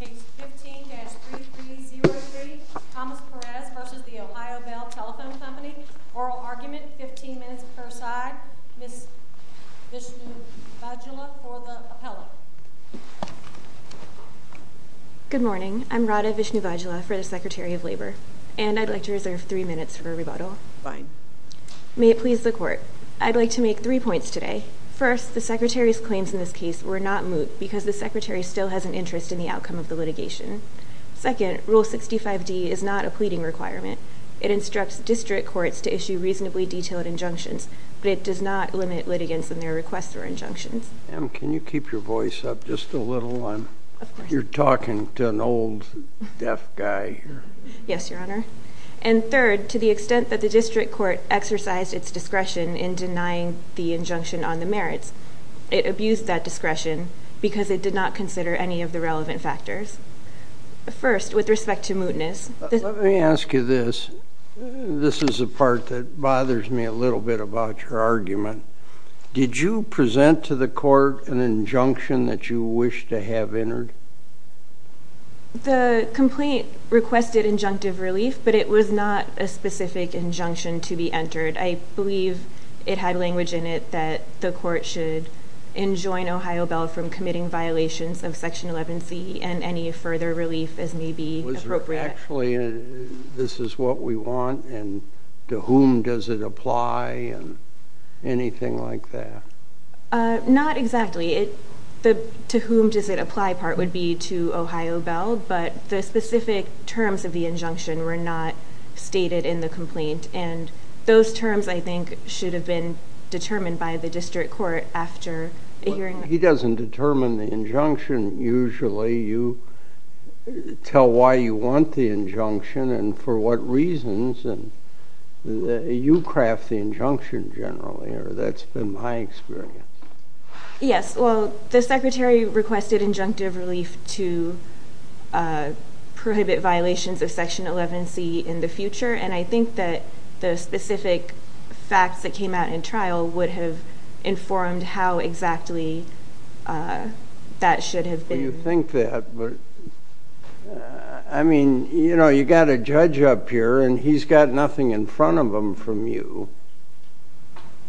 Case 15-3303, Thomas Perez v. The Ohio Bell Telephone Company. Oral argument, 15 minutes per side. Ms. Vishnuvajula for the appellate. Good morning. I'm Radha Vishnuvajula for the Secretary of Labor. And I'd like to reserve three minutes for rebuttal. Fine. May it please the Court. I'd like to make three points today. First, the Secretary's claims in this case were not moot because the Secretary still has an interest in the outcome of the litigation. Second, Rule 65d is not a pleading requirement. It instructs district courts to issue reasonably detailed injunctions, but it does not limit litigants in their requests for injunctions. Can you keep your voice up just a little? You're talking to an old deaf guy here. Yes, Your Honor. And third, to the extent that the district court exercised its discretion in denying the injunction on the merits, it abused that discretion because it did not consider any of the relevant factors. First, with respect to mootness. Let me ask you this. This is the part that bothers me a little bit about your argument. Did you present to the Court an injunction that you wish to have entered? The complaint requested injunctive relief, but it was not a specific injunction to be entered. I believe it had language in it that the Court should enjoin Ohio Bell from committing violations of Section 11c and any further relief as may be appropriate. Was there actually a, this is what we want, and to whom does it apply, and anything like that? Not exactly. The to whom does it apply part would be to Ohio Bell, but the specific terms of the injunction were not stated in the complaint, and those terms, I think, should have been determined by the district court after a hearing. He doesn't determine the injunction usually. You tell why you want the injunction and for what reasons, and you craft the injunction generally, or that's been my experience. Yes, well, the Secretary requested injunctive relief to prohibit violations of Section 11c in the future, and I think that the specific facts that came out in trial would have informed how exactly that should have been. Well, you think that, but I mean, you know, you got a judge up here, and he's got nothing in front of him from you,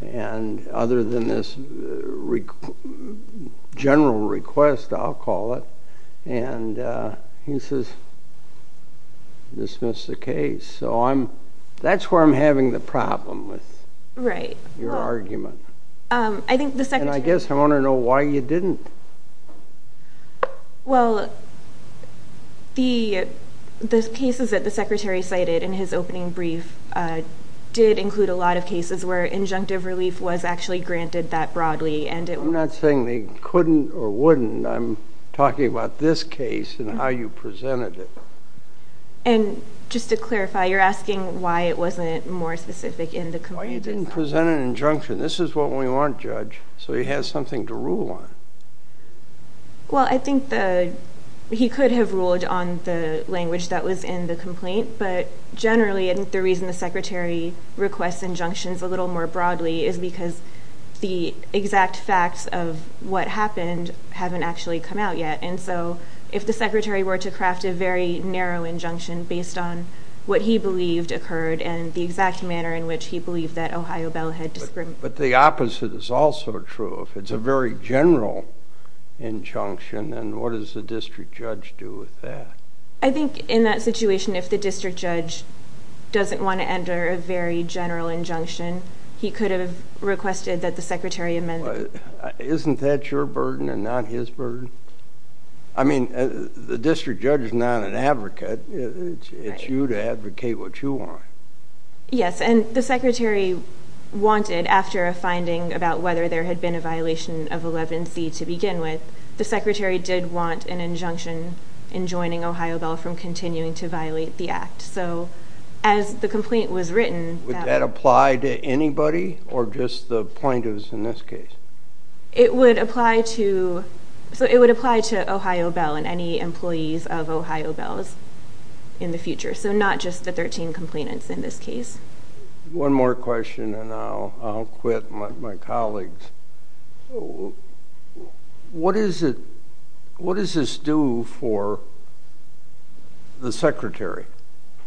and other than this general request, I'll call it, and he says dismiss the case. So that's where I'm having the problem with your argument, and I guess I want to know why you didn't. Well, the cases that the Secretary cited in his opening brief did include a lot of cases where injunctive relief was actually granted that broadly. I'm not saying they couldn't or wouldn't. I'm talking about this case and how you presented it. And just to clarify, you're asking why it wasn't more specific in the complaint? Why you didn't present an injunction. This is what we want, Judge, so he has something to rule on. Well, I think he could have ruled on the language that was in the complaint, but generally the reason the Secretary requests injunctions a little more broadly is because the exact facts of what happened haven't actually come out yet. And so if the Secretary were to craft a very narrow injunction based on what he believed occurred and the exact manner in which he believed that Ohio Bell had discriminated against him. But the opposite is also true. If it's a very general injunction, then what does the District Judge do with that? I think in that situation, if the District Judge doesn't want to enter a very general injunction, he could have requested that the Secretary amend it. Isn't that your burden and not his burden? I mean, the District Judge is not an advocate. It's you to advocate what you want. Yes, and the Secretary wanted, after a finding about whether there had been a violation of 11C to begin with, the Secretary did want an injunction in joining Ohio Bell from continuing to violate the act. Would that apply to anybody or just the plaintiffs in this case? It would apply to Ohio Bell and any employees of Ohio Bell in the future, so not just the 13 complainants in this case. One more question and I'll quit my colleagues. What does this do for the Secretary?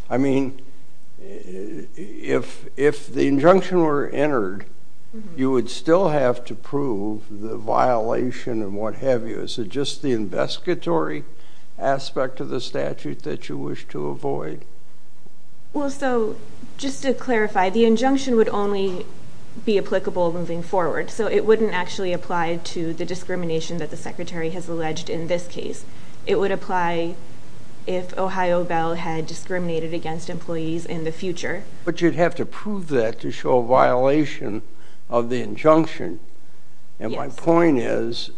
I mean, if the injunction were entered, you would still have to prove the violation and what have you. Is it just the investigatory aspect of the statute that you wish to avoid? Well, so just to clarify, the injunction would only be applicable moving forward, so it wouldn't actually apply to the discrimination that the Secretary has alleged in this case. It would apply if Ohio Bell had discriminated against employees in the future. But you'd have to prove that to show a violation of the injunction. And my point is,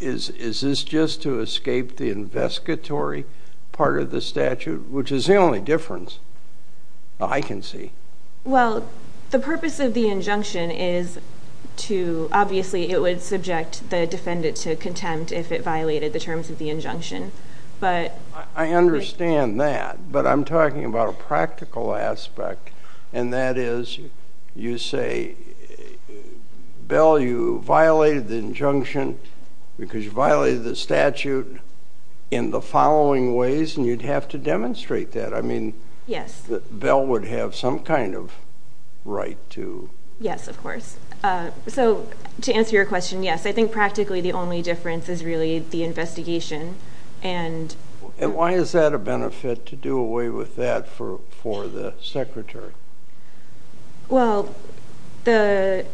is this just to escape the investigatory part of the statute, which is the only difference I can see? Well, the purpose of the injunction is to, obviously, it would subject the defendant to contempt if it violated the terms of the injunction. I understand that, but I'm talking about a practical aspect, and that is, you say, Bell, you violated the injunction because you violated the statute in the following ways, and you'd have to demonstrate that. I mean, Bell would have some kind of right to. Yes, of course. So to answer your question, yes, I think practically the only difference is really the investigation. And why is that a benefit to do away with that for the Secretary? Well, the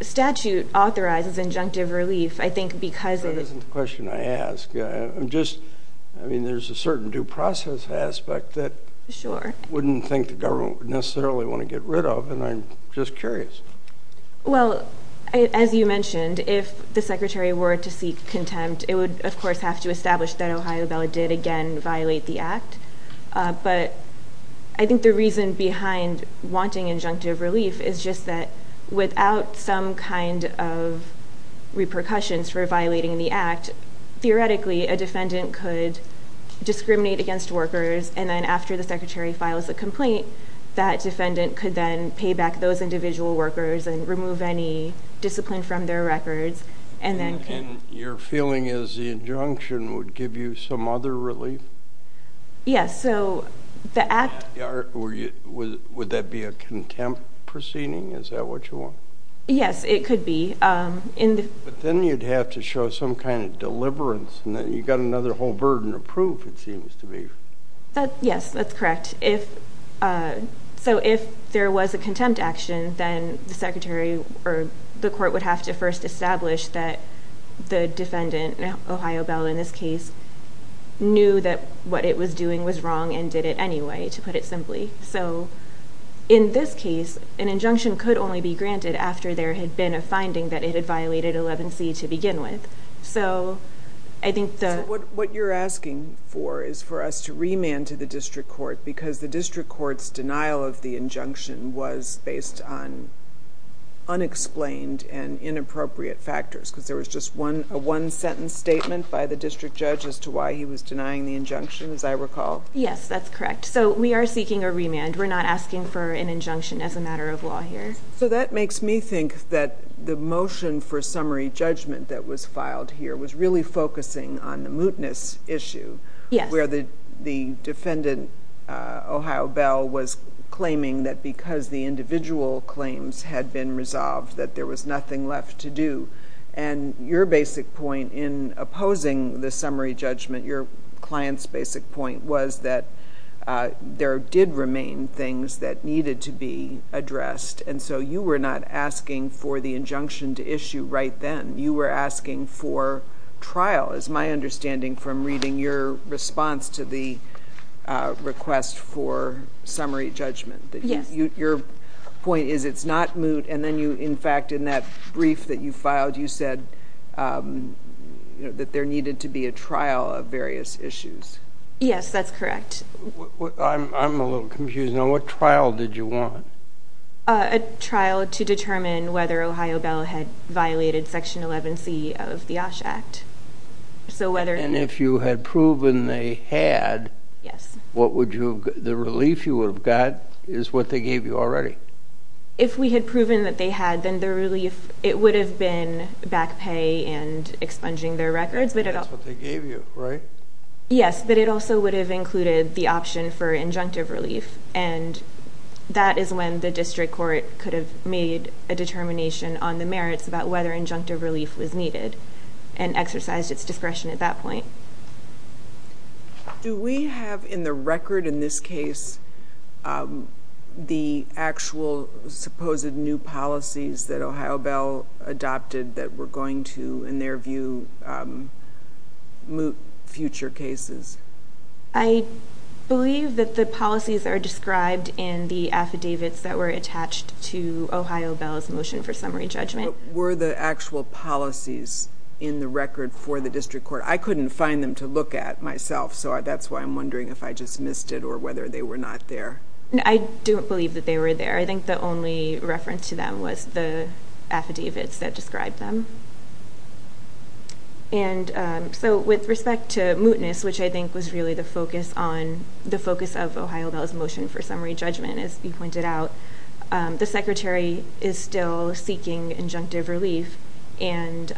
statute authorizes injunctive relief, I think, because it... That isn't the question I asked. I'm just, I mean, there's a certain due process aspect that... Sure. I wouldn't think the government would necessarily want to get rid of, and I'm just curious. Well, as you mentioned, if the Secretary were to seek contempt, it would, of course, have to establish that Ohio Bell did, again, violate the Act. But I think the reason behind wanting injunctive relief is just that without some kind of repercussions for violating the Act, theoretically, a defendant could discriminate against workers, and then after the Secretary files a complaint, that defendant could then pay back those individual workers and remove any discipline from their records, and then... And your feeling is the injunction would give you some other relief? Yes, so the Act... Would that be a contempt proceeding? Is that what you want? Yes, it could be. But then you'd have to show some kind of deliverance, and then you've got another whole burden of proof, it seems to me. Yes, that's correct. So if there was a contempt action, then the Secretary or the court would have to first establish that the defendant, Ohio Bell in this case, knew that what it was doing was wrong and did it anyway, to put it simply. So in this case, an injunction could only be granted after there had been a finding that it had violated 11C to begin with. So I think the... So what you're asking for is for us to remand to the district court, because the district court's denial of the injunction was based on unexplained and inappropriate factors, because there was just a one-sentence statement by the district judge as to why he was denying the injunction, as I recall? Yes, that's correct. So we are seeking a remand. We're not asking for an injunction as a matter of law here. So that makes me think that the motion for summary judgment that was filed here was really focusing on the mootness issue. Yes. Where the defendant, Ohio Bell, was claiming that because the individual claims had been resolved, that there was nothing left to do. And your basic point in opposing the summary judgment, your client's basic point, was that there did remain things that needed to be addressed. And so you were not asking for the injunction to issue right then. You were asking for trial, as my understanding from reading your response to the request for summary judgment. Yes. Your point is it's not moot, and then you, in fact, in that brief that you filed, you said that there needed to be a trial of various issues. Yes, that's correct. I'm a little confused now. What trial did you want? A trial to determine whether Ohio Bell had violated Section 11C of the OSH Act. And if you had proven they had, the relief you would have got is what they gave you already. If we had proven that they had, then the relief, it would have been back pay and expunging their records. That's what they gave you, right? Yes, but it also would have included the option for injunctive relief, and that is when the district court could have made a determination on the merits about whether injunctive relief was needed and exercised its discretion at that point. Do we have in the record in this case the actual supposed new policies that Ohio Bell adopted that were going to, in their view, moot future cases? I believe that the policies are described in the affidavits that were attached to Ohio Bell's motion for summary judgment. But were the actual policies in the record for the district court? I couldn't find them to look at myself, so that's why I'm wondering if I just missed it or whether they were not there. I don't believe that they were there. I think the only reference to them was the affidavits that described them. And so with respect to mootness, which I think was really the focus of Ohio Bell's motion for summary judgment, as you pointed out, the Secretary is still seeking injunctive relief, and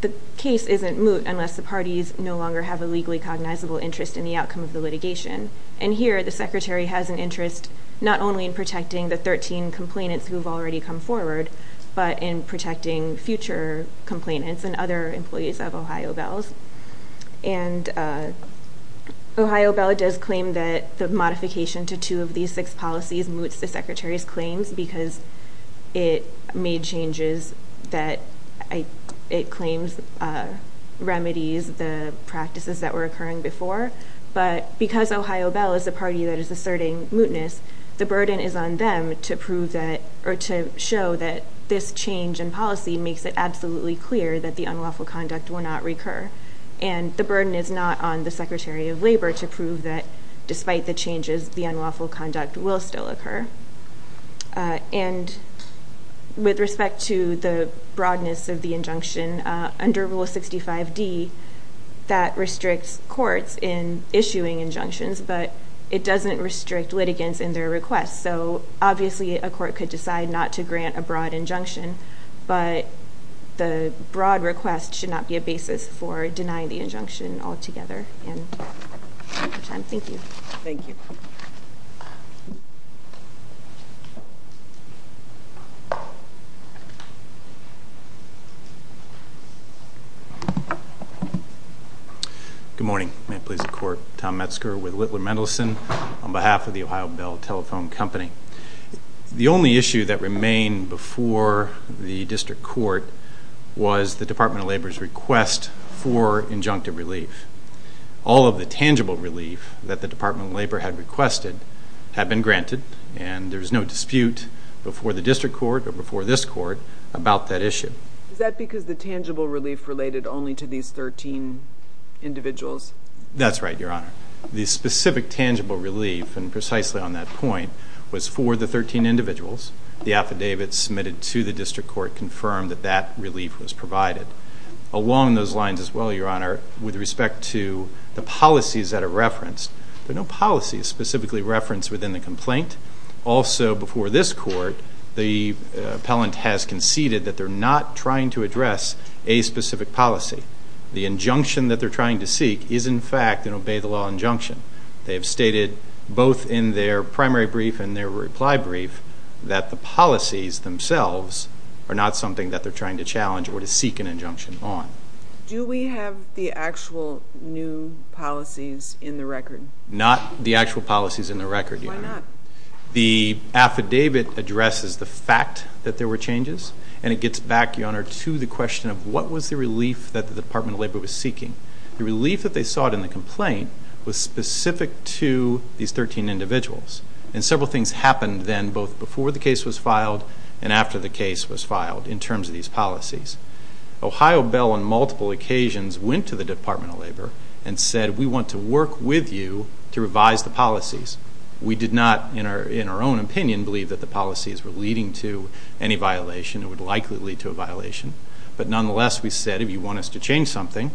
the case isn't moot unless the parties no longer have a legally cognizable interest in the outcome of the litigation. And here the Secretary has an interest not only in protecting the 13 complainants who have already come forward, but in protecting future complainants and other employees of Ohio Bell's. And Ohio Bell does claim that the modification to two of these six policies moots the Secretary's claims because it made changes that it claims remedies the practices that were occurring before. But because Ohio Bell is a party that is asserting mootness, the burden is on them to prove that or to show that this change in policy makes it absolutely clear that the unlawful conduct will not recur. And the burden is not on the Secretary of Labor to prove that despite the changes, the unlawful conduct will still occur. And with respect to the broadness of the injunction, under Rule 65d, that restricts courts in issuing injunctions, but it doesn't restrict litigants in their requests. So obviously a court could decide not to grant a broad injunction, but the broad request should not be a basis for denying the injunction altogether. Thank you. Good morning. May it please the Court. Tom Metzger with Littler Mendelson on behalf of the Ohio Bell Telephone Company. The only issue that remained before the district court was the Department of Labor's request for injunctive relief. All of the tangible relief that the Department of Labor had requested had been granted, and there's no dispute before the district court or before this court about that issue. Is that because the tangible relief related only to these 13 individuals? That's right, Your Honor. The specific tangible relief, and precisely on that point, was for the 13 individuals. The affidavit submitted to the district court confirmed that that relief was provided. Along those lines as well, Your Honor, with respect to the policies that are referenced, there are no policies specifically referenced within the complaint. Also before this court, the appellant has conceded that they're not trying to address a specific policy. The injunction that they're trying to seek is, in fact, an obey-the-law injunction. They have stated both in their primary brief and their reply brief that the policies themselves are not something that they're trying to challenge or to seek an injunction on. Do we have the actual new policies in the record? Not the actual policies in the record, Your Honor. Why not? The affidavit addresses the fact that there were changes, and it gets back, Your Honor, to the question of what was the relief that the Department of Labor was seeking. The relief that they sought in the complaint was specific to these 13 individuals, and several things happened then both before the case was filed and after the case was filed in terms of these policies. Ohio Bell on multiple occasions went to the Department of Labor and said, we want to work with you to revise the policies. We did not, in our own opinion, believe that the policies were leading to any violation. It would likely lead to a violation. But nonetheless, we said, if you want us to change something,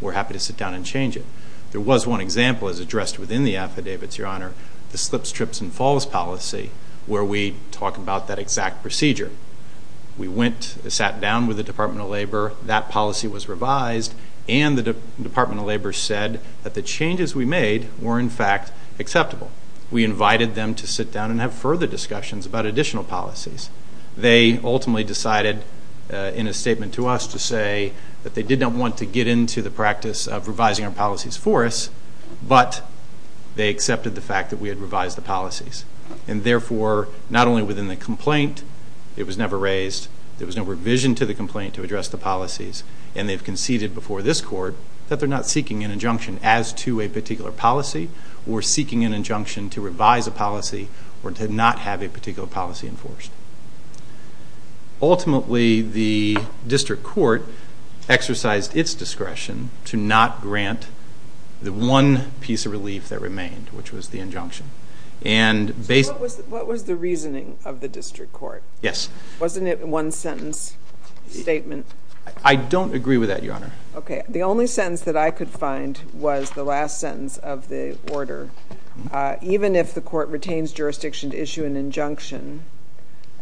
we're happy to sit down and change it. There was one example, as addressed within the affidavit, Your Honor, the slips, trips, and falls policy where we talk about that exact procedure. We sat down with the Department of Labor. That policy was revised, and the Department of Labor said that the changes we made were, in fact, acceptable. We invited them to sit down and have further discussions about additional policies. They ultimately decided in a statement to us to say that they did not want to get into the practice of revising our policies for us, but they accepted the fact that we had revised the policies. And therefore, not only within the complaint, it was never raised, there was no revision to the complaint to address the policies, and they've conceded before this Court that they're not seeking an injunction as to a particular policy, or seeking an injunction to revise a policy, or to not have a particular policy enforced. Ultimately, the district court exercised its discretion to not grant the one piece of relief that remained, which was the injunction. So what was the reasoning of the district court? Yes. Wasn't it one sentence statement? I don't agree with that, Your Honor. Okay. The only sentence that I could find was the last sentence of the order. Even if the court retains jurisdiction to issue an injunction,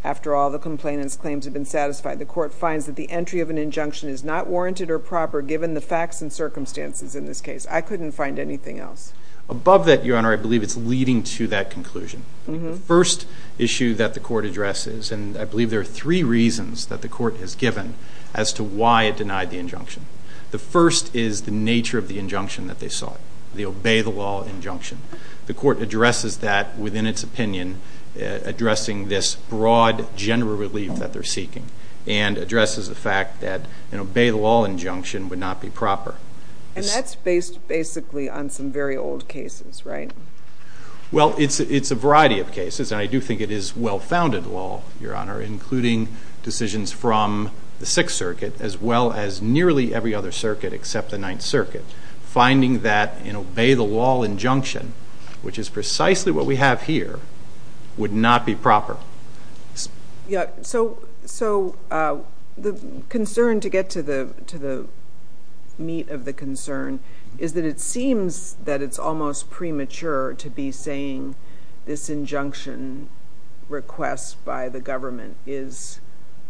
after all the complainant's claims have been satisfied, the court finds that the entry of an injunction is not warranted or proper, given the facts and circumstances in this case. I couldn't find anything else. Above that, Your Honor, I believe it's leading to that conclusion. The first issue that the court addresses, and I believe there are three reasons that the court has given as to why it denied the injunction. The first is the nature of the injunction that they sought, the obey-the-law injunction. The court addresses that within its opinion, addressing this broad general relief that they're seeking, and addresses the fact that an obey-the-law injunction would not be proper. And that's based basically on some very old cases, right? Well, it's a variety of cases, and I do think it is well-founded law, Your Honor, including decisions from the Sixth Circuit, as well as nearly every other circuit except the Ninth Circuit. Finding that an obey-the-law injunction, which is precisely what we have here, would not be proper. So the concern, to get to the meat of the concern, is that it seems that it's almost premature to be saying this injunction request by the government is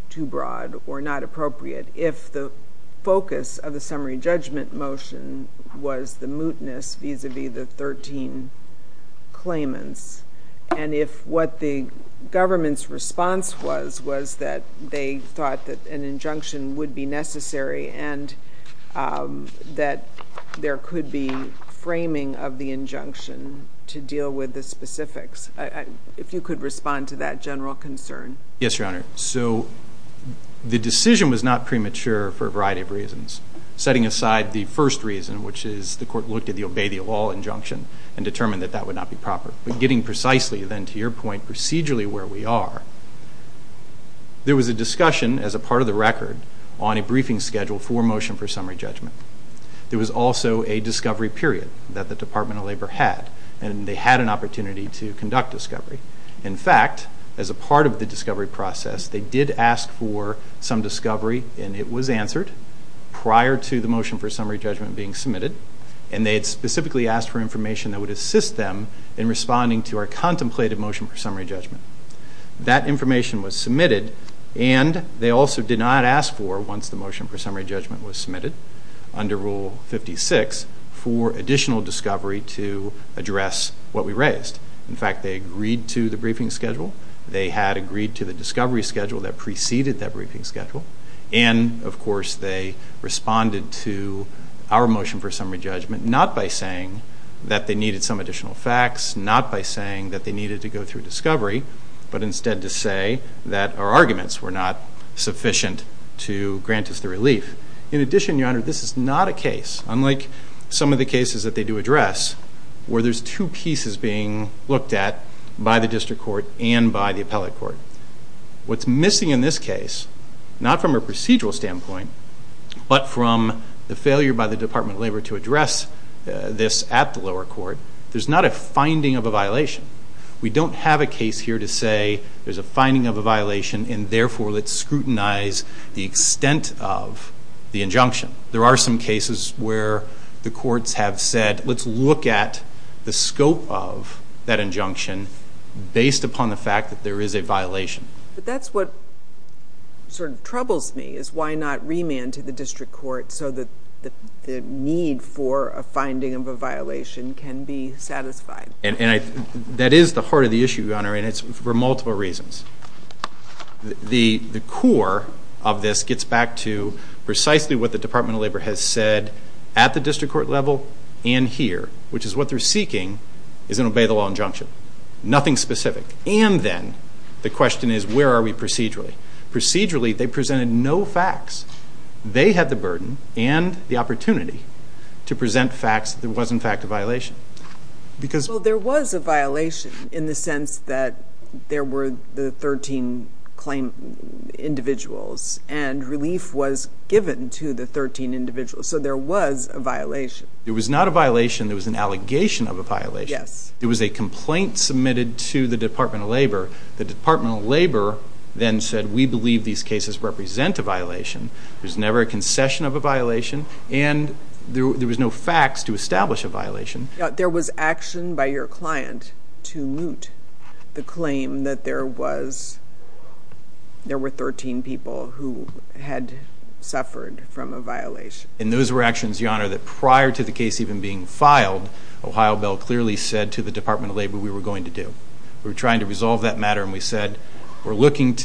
too broad or not appropriate if the focus of the summary judgment motion was the mootness vis-à-vis the 13 claimants, and if what the government's response was was that they thought that an injunction would be necessary and that there could be framing of the injunction to deal with the specifics. If you could respond to that general concern. Yes, Your Honor. So the decision was not premature for a variety of reasons, setting aside the first reason, which is the court looked at the obey-the-law injunction and determined that that would not be proper. But getting precisely, then, to your point, procedurally where we are, there was a discussion, as a part of the record, on a briefing schedule for motion for summary judgment. There was also a discovery period that the Department of Labor had, and they had an opportunity to conduct discovery. In fact, as a part of the discovery process, they did ask for some discovery, and it was answered, prior to the motion for summary judgment being submitted, and they had specifically asked for information that would assist them in responding to our contemplated motion for summary judgment. That information was submitted, and they also did not ask for, once the motion for summary judgment was submitted, under Rule 56, for additional discovery to address what we raised. In fact, they agreed to the briefing schedule, they had agreed to the discovery schedule that preceded that briefing schedule, and, of course, they responded to our motion for summary judgment, not by saying that they needed some additional facts, not by saying that they needed to go through discovery, but instead to say that our arguments were not sufficient to grant us the relief. In addition, Your Honor, this is not a case, unlike some of the cases that they do address, where there's two pieces being looked at by the district court and by the appellate court. What's missing in this case, not from a procedural standpoint, but from the failure by the Department of Labor to address this at the lower court, there's not a finding of a violation. We don't have a case here to say there's a finding of a violation, and therefore let's scrutinize the extent of the injunction. There are some cases where the courts have said, let's look at the scope of that injunction based upon the fact that there is a violation. But that's what sort of troubles me, is why not remand to the district court so that the need for a finding of a violation can be satisfied? That is the heart of the issue, Your Honor, and it's for multiple reasons. The core of this gets back to precisely what the Department of Labor has said at the district court level and here, which is what they're seeking is an obey the law injunction. Nothing specific. And then the question is, where are we procedurally? Procedurally, they presented no facts. They had the burden and the opportunity to present facts that there was in fact a violation. Well, there was a violation in the sense that there were the 13 claim individuals, and relief was given to the 13 individuals. So there was a violation. There was not a violation. There was an allegation of a violation. There was a complaint submitted to the Department of Labor. The Department of Labor then said, we believe these cases represent a violation. There's never a concession of a violation. And there was no facts to establish a violation. There was action by your client to moot the claim that there were 13 people who had suffered from a violation. And those were actions, Your Honor, that prior to the case even being filed, Ohio Bell clearly said to the Department of Labor we were going to do. We were trying to resolve that matter, and we said, in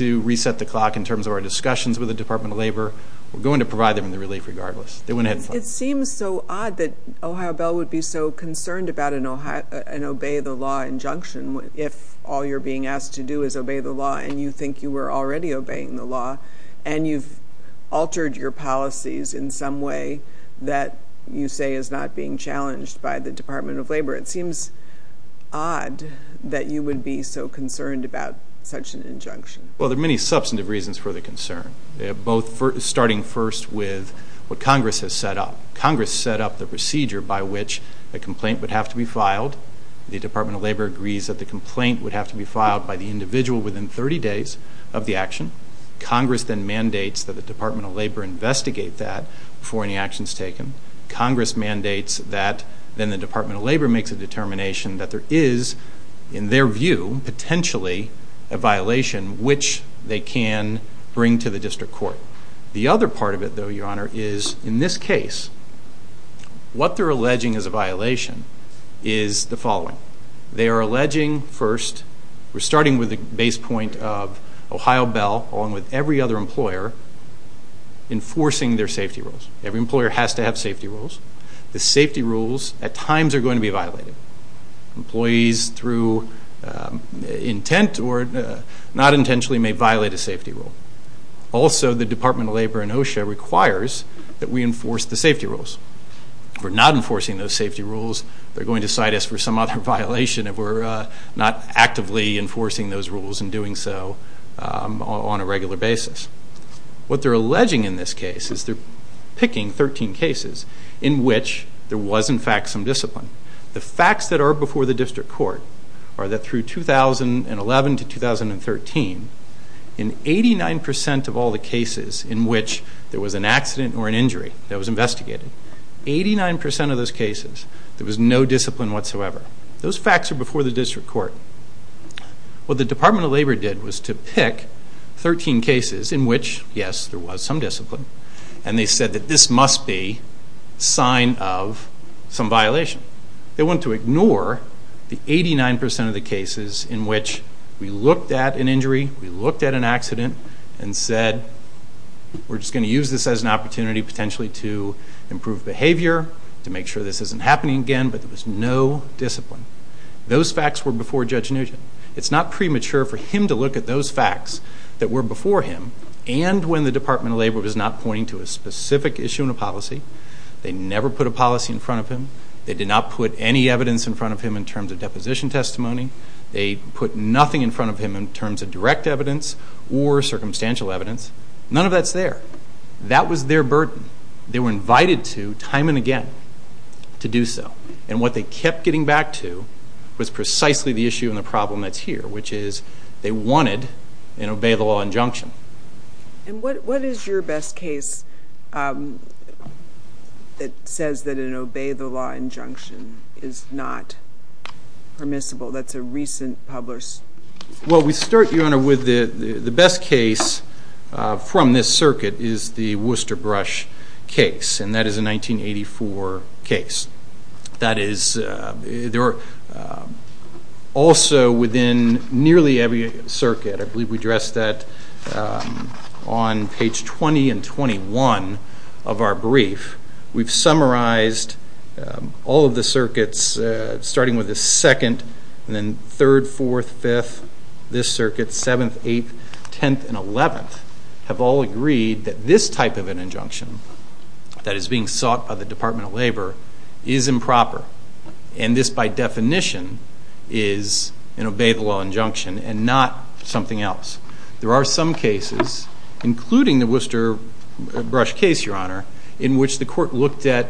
terms of our discussions with the Department of Labor. We're going to provide them the relief regardless. They went ahead and filed it. It seems so odd that Ohio Bell would be so concerned about an obey-the-law injunction if all you're being asked to do is obey the law, and you think you were already obeying the law, and you've altered your policies in some way that you say is not being challenged by the Department of Labor. It seems odd that you would be so concerned about such an injunction. Well, there are many substantive reasons for the concern. Both starting first with what Congress has set up. Congress set up the procedure by which a complaint would have to be filed. The Department of Labor agrees that the complaint would have to be filed by the individual within 30 days of the action. Congress then mandates that the Department of Labor investigate that before any action is taken. Congress mandates that then the Department of Labor makes a determination that there is, in their view, potentially a violation which they can bring to the district court. The other part of it, though, Your Honor, is in this case, what they're alleging is a violation is the following. They are alleging, first, we're starting with the base point of Ohio Bell along with every other employer enforcing their safety rules. Every employer has to have safety rules. The safety rules at times are going to be violated. Employees, through intent or not intentionally, may violate a safety rule. Also, the Department of Labor in OSHA requires that we enforce the safety rules. If we're not enforcing those safety rules, they're going to cite us for some other violation if we're not actively enforcing those rules and doing so on a regular basis. What they're alleging in this case is they're picking 13 cases in which there was, in fact, some discipline. The facts that are before the district court are that through 2011 to 2013, in 89% of all the cases in which there was an accident or an injury that was investigated, 89% of those cases, there was no discipline whatsoever. Those facts are before the district court. What the Department of Labor did was to pick 13 cases in which, yes, there was some discipline, and they said that this must be a sign of some violation. They want to ignore the 89% of the cases in which we looked at an injury, we looked at an accident, and said, we're just going to use this as an opportunity potentially to improve behavior, to make sure this isn't happening again, but there was no discipline. Those facts were before Judge Nugent. It's not premature for him to look at those facts that were before him, and when the Department of Labor was not pointing to a specific issue in a policy, they never put a policy in front of him. They did not put any evidence in front of him in terms of deposition testimony. They put nothing in front of him in terms of direct evidence or circumstantial evidence. None of that's there. That was their burden. They were invited to, time and again, to do so, and what they kept getting back to was precisely the issue and the problem that's here, which is they wanted an obey-the-law injunction. And what is your best case that says that an obey-the-law injunction is not permissible? That's a recent published... Well, we start, Your Honor, with the best case from this circuit is the Worcester Brush case, and that is a 1984 case. That is... Also, within nearly every circuit, I believe we addressed that on page 20 and 21 of our brief, we've summarized all of the circuits, starting with the 2nd, and then 3rd, 4th, 5th, this circuit, 7th, 8th, 10th, and 11th, have all agreed that this type of an injunction that is being sought by the Department of Labor is improper, and this, by definition, is an obey-the-law injunction and not something else. There are some cases, including the Worcester Brush case, Your Honor, in which the court looked at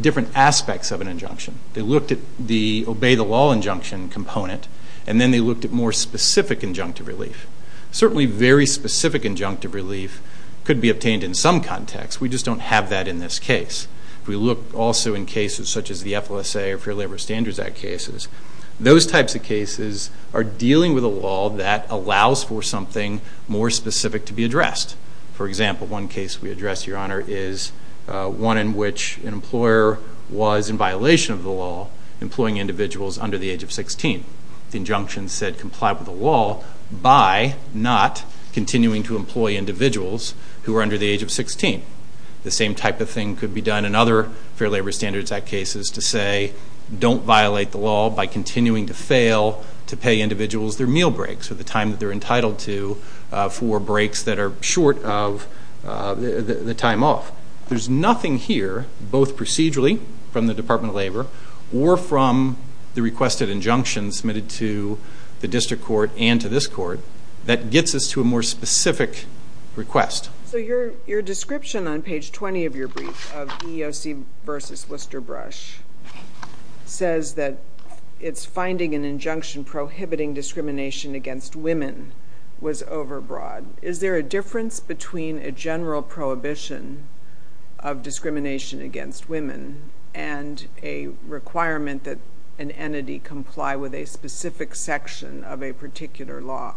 different aspects of an injunction. They looked at the obey-the-law injunction component, and then they looked at more specific injunctive relief. Certainly, very specific injunctive relief could be obtained in some context. We just don't have that in this case. We look also in cases such as the FLSA or Fair Labor Standards Act cases. Those types of cases are dealing with a law that allows for something more specific to be addressed. For example, one case we addressed, Your Honor, is one in which an employer was in violation of the law employing individuals under the age of 16. The injunction said comply with the law by not continuing to employ individuals who are under the age of 16. The same type of thing could be done in other Fair Labor Standards Act cases to say don't violate the law by continuing to fail to pay individuals their meal breaks or the time that they're entitled to for breaks that are short of the time off. There's nothing here, both procedurally from the Department of Labor or from the requested injunction submitted to the district court and to this court, that gets us to a more specific request. So your description on page 20 of your brief of EEOC v. Worcester Brush says that it's finding an injunction prohibiting discrimination against women was overbroad. Is there a difference between a general prohibition of discrimination against women and a requirement that an entity comply with a specific section of a particular law?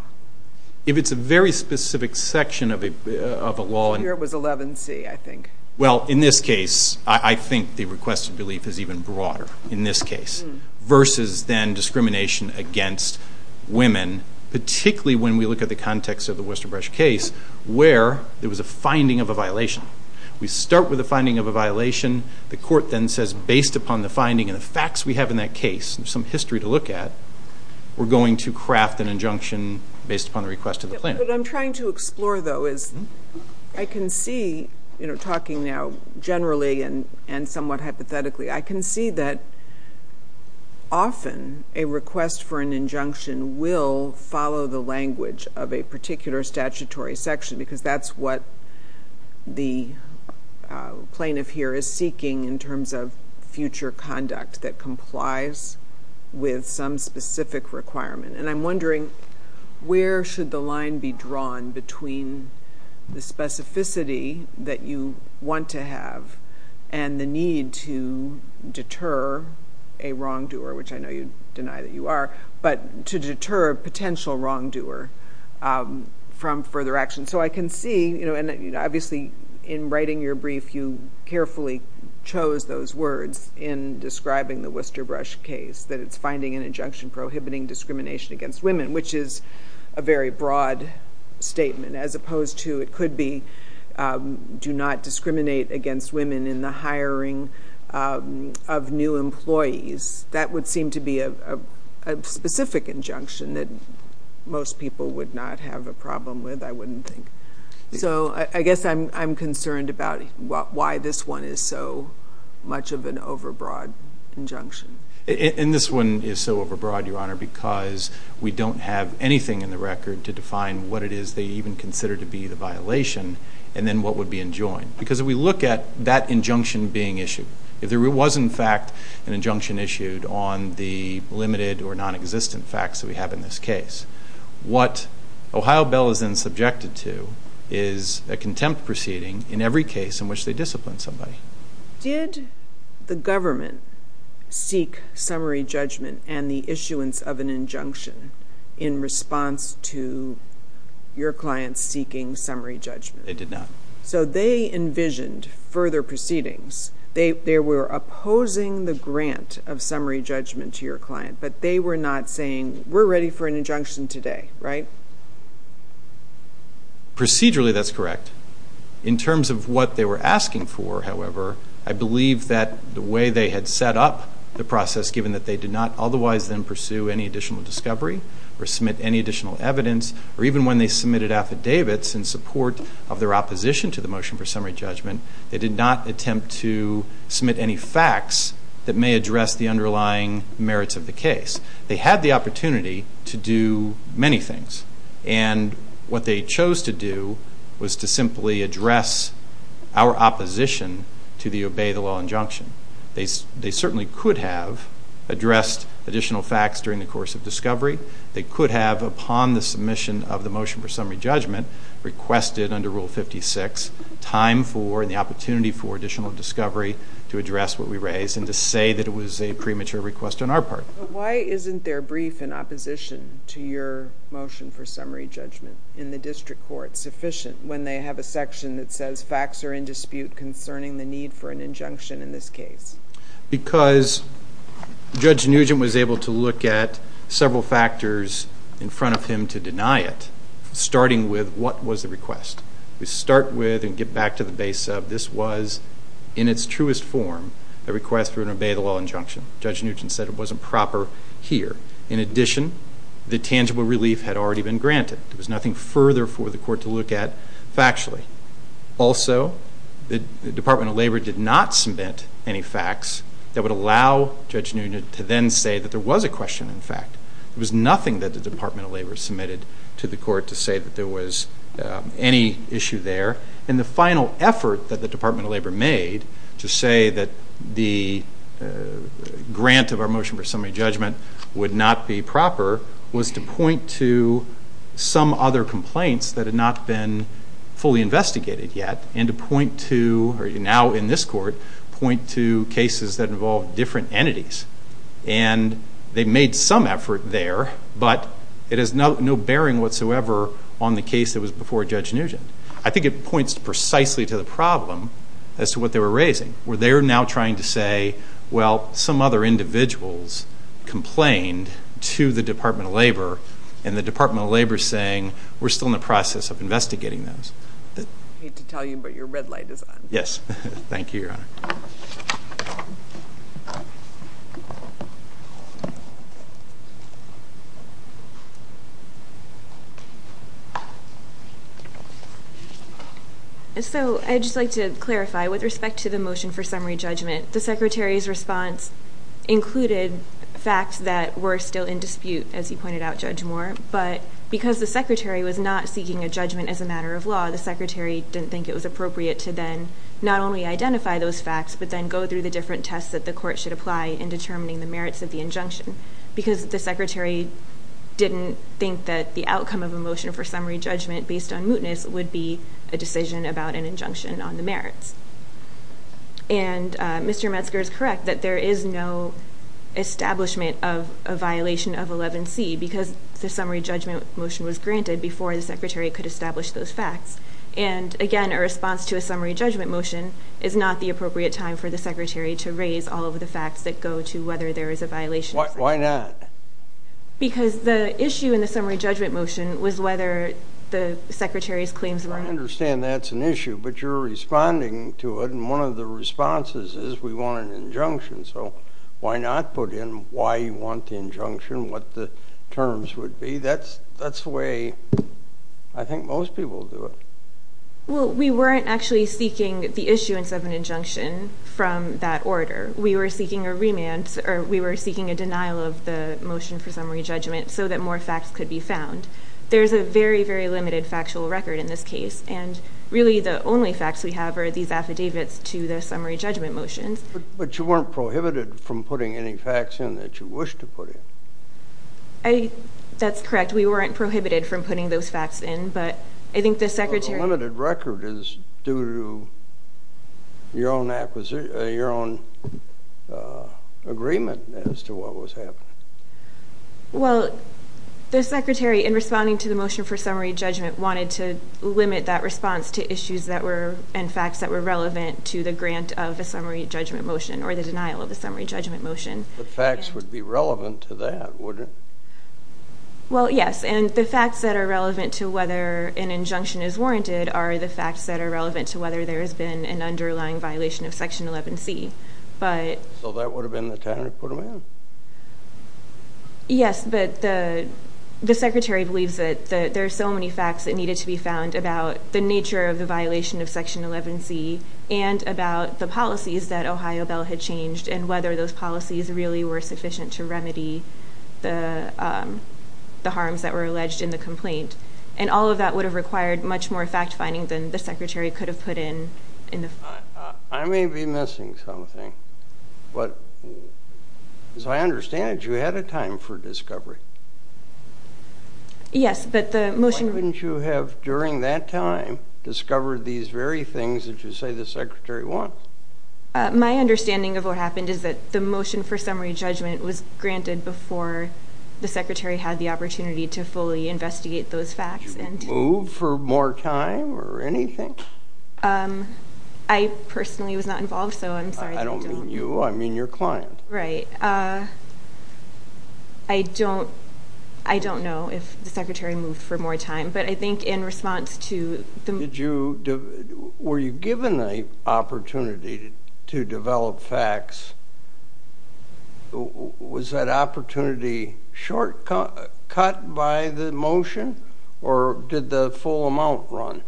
If it's a very specific section of a law... Here it was 11C, I think. Well, in this case, I think the requested belief is even broader in this case versus then discrimination against women, particularly when we look at the context of the Worcester Brush case where there was a finding of a violation. We start with a finding of a violation. The court then says, based upon the finding and the facts we have in that case, some history to look at, we're going to craft an injunction based upon the request of the plaintiff. What I'm trying to explore, though, is I can see, talking now generally and somewhat hypothetically, I can see that often a request for an injunction will follow the language of a particular statutory section because that's what the plaintiff here is seeking in terms of future conduct And I'm wondering, where should the line be drawn between the specificity that you want to have and the need to deter a wrongdoer, which I know you deny that you are, but to deter a potential wrongdoer from further action? So I can see, and obviously in writing your brief, you carefully chose those words in describing the Worcester Brush case, that it's finding an injunction prohibiting discrimination against women, which is a very broad statement, as opposed to it could be do not discriminate against women in the hiring of new employees. That would seem to be a specific injunction that most people would not have a problem with, I wouldn't think. So I guess I'm concerned about why this one is so much of an overbroad injunction. And this one is so overbroad, Your Honor, because we don't have anything in the record to define what it is they even consider to be the violation and then what would be enjoined. Because if we look at that injunction being issued, if there was in fact an injunction issued on the limited or nonexistent facts that we have in this case, what Ohio Bell is then subjected to is a contempt proceeding in every case in which they discipline somebody. Did the government seek summary judgment and the issuance of an injunction in response to your client seeking summary judgment? They did not. So they envisioned further proceedings. They were opposing the grant of summary judgment to your client, but they were not saying, we're ready for an injunction today, right? Procedurally, that's correct. In terms of what they were asking for, however, I believe that the way they had set up the process, given that they did not otherwise then pursue any additional discovery or submit any additional evidence, or even when they submitted affidavits in support of their opposition to the motion for summary judgment, they did not attempt to submit any facts that may address the underlying merits of the case. They had the opportunity to do many things and what they chose to do was to simply address our opposition to the obey the law injunction. They certainly could have addressed additional facts during the course of discovery. They could have, upon the submission of the motion for summary judgment, requested under Rule 56 time for and the opportunity for additional discovery to address what we raised and to say that it was a premature request on our part. Why isn't their brief in opposition to your motion for summary judgment in the district court sufficient when they have a section that says facts are in dispute concerning the need for an injunction in this case? Because Judge Nugent was able to look at several factors in front of him to deny it, starting with what was the request. We start with, and get back to the base of, this was, in its truest form, a request for an obey the law injunction. Judge Nugent said it wasn't proper here. In addition, the tangible relief had already been granted. There was nothing further for the court to look at factually. Also, the Department of Labor did not submit any facts that would allow Judge Nugent to then say that there was a question in fact. There was nothing that the Department of Labor submitted to the court to say that there was any issue there. And the final effort that the Department of Labor made to say that the grant of our motion for summary judgment would not be proper was to point to some other complaints that had not been fully investigated yet, and to point to, or now in this court, point to cases that involved different entities. And they made some effort there, but it has no bearing whatsoever on the case that was before Judge Nugent. I think it points precisely to the problem as to what they were raising, where they are now trying to say, well, some other individuals complained to the Department of Labor, and the Department of Labor is saying we're still in the process of investigating those. I hate to tell you, but your red light is on. Yes. Thank you, Your Honor. So I'd just like to clarify, with respect to the motion for summary judgment, the Secretary's response included facts that were still in dispute, as you pointed out, Judge Moore. But because the Secretary was not seeking a judgment as a matter of law, the Secretary didn't think it was appropriate to then not only identify those facts, but then go through the different tests that the court should apply in determining the merits of the injunction, because the Secretary didn't think that the outcome of a motion for summary judgment based on mootness would be a decision about an injunction on the merits. And Mr. Metzger is correct that there is no establishment of a violation of 11C, because the summary judgment motion was granted before the Secretary could establish those facts. And again, a response to a summary judgment motion is not the appropriate time for the Secretary to raise all of the facts that go to whether there is a violation. Why not? Because the issue in the summary judgment motion was whether the Secretary's claims were... I understand that's an issue, but you're responding to it, and one of the responses is, we want an injunction, so why not put in why you want the injunction, what the terms would be? That's the way I think most people do it. Well, we weren't actually seeking the issuance of an injunction from that order. We were seeking a denial of the motion for summary judgment so that more facts could be found. There's a very, very limited factual record in this case, and really, the only facts we have are these affidavits to the summary judgment motions. But you weren't prohibited from putting any facts in that you wish to put in. That's correct. We weren't prohibited from putting those facts in, but I think the Secretary... Well, the limited record is due to your own acquisition, your own agreement as to what was happening. Well, the Secretary, in responding to the motion for summary judgment, wanted to limit that response to issues and facts that were relevant to the grant of a summary judgment motion, or the denial of a summary judgment motion. The facts would be relevant to that, wouldn't they? Well, yes, and the facts that are relevant to whether an injunction is warranted are the facts that are relevant to whether there has been an underlying violation of Section 11C. So that would have been the time to put them in? Yes, but the Secretary believes that there are so many facts that needed to be found about the nature of the violation of Section 11C and about the policies that Ohio Bell had changed and whether those policies really were sufficient to remedy the harms that were alleged in the complaint. And all of that would have required much more fact-finding than the Secretary could have put in. I may be missing something, but as I understand it, you had a time for Why couldn't you have during that time discovered these very things that you say the Secretary wants? My understanding of what happened is that the motion for summary judgment was granted before the Secretary had the opportunity to fully investigate those facts. Did you move for more time or anything? I personally was not involved, so I'm sorry. I don't mean you, I mean your client. Right. I don't I don't know if the Secretary moved for more time, but I think in response to the Were you given an opportunity to develop facts? Was that opportunity short cut by the motion, or did the full amount run?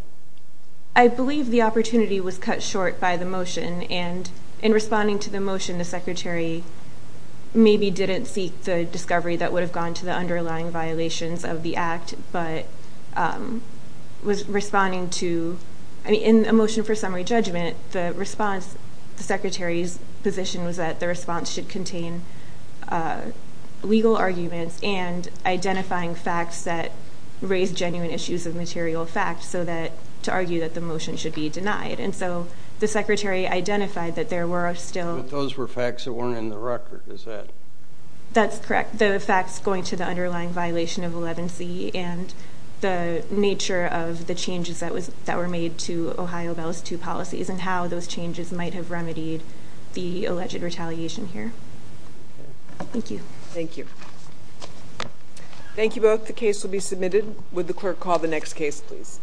I believe the opportunity was cut short by the motion, and in responding to the motion, the Secretary maybe didn't seek the discovery that would have gone to the underlying violations of the Act, but was responding to in a motion for summary judgment, the response, the Secretary's position was that the response should contain legal arguments and identifying facts that raised genuine issues of material facts, so that to argue that the motion should be denied, and so the Secretary identified that there were still But those were facts that That's correct. The facts going to the underlying violation of Eleven-C and the nature of the changes that were made to Ohio Bell's two policies and how those changes might have remedied the alleged retaliation here. Thank you. Thank you. Thank you both. The case will be submitted. Would the clerk call the next case, please?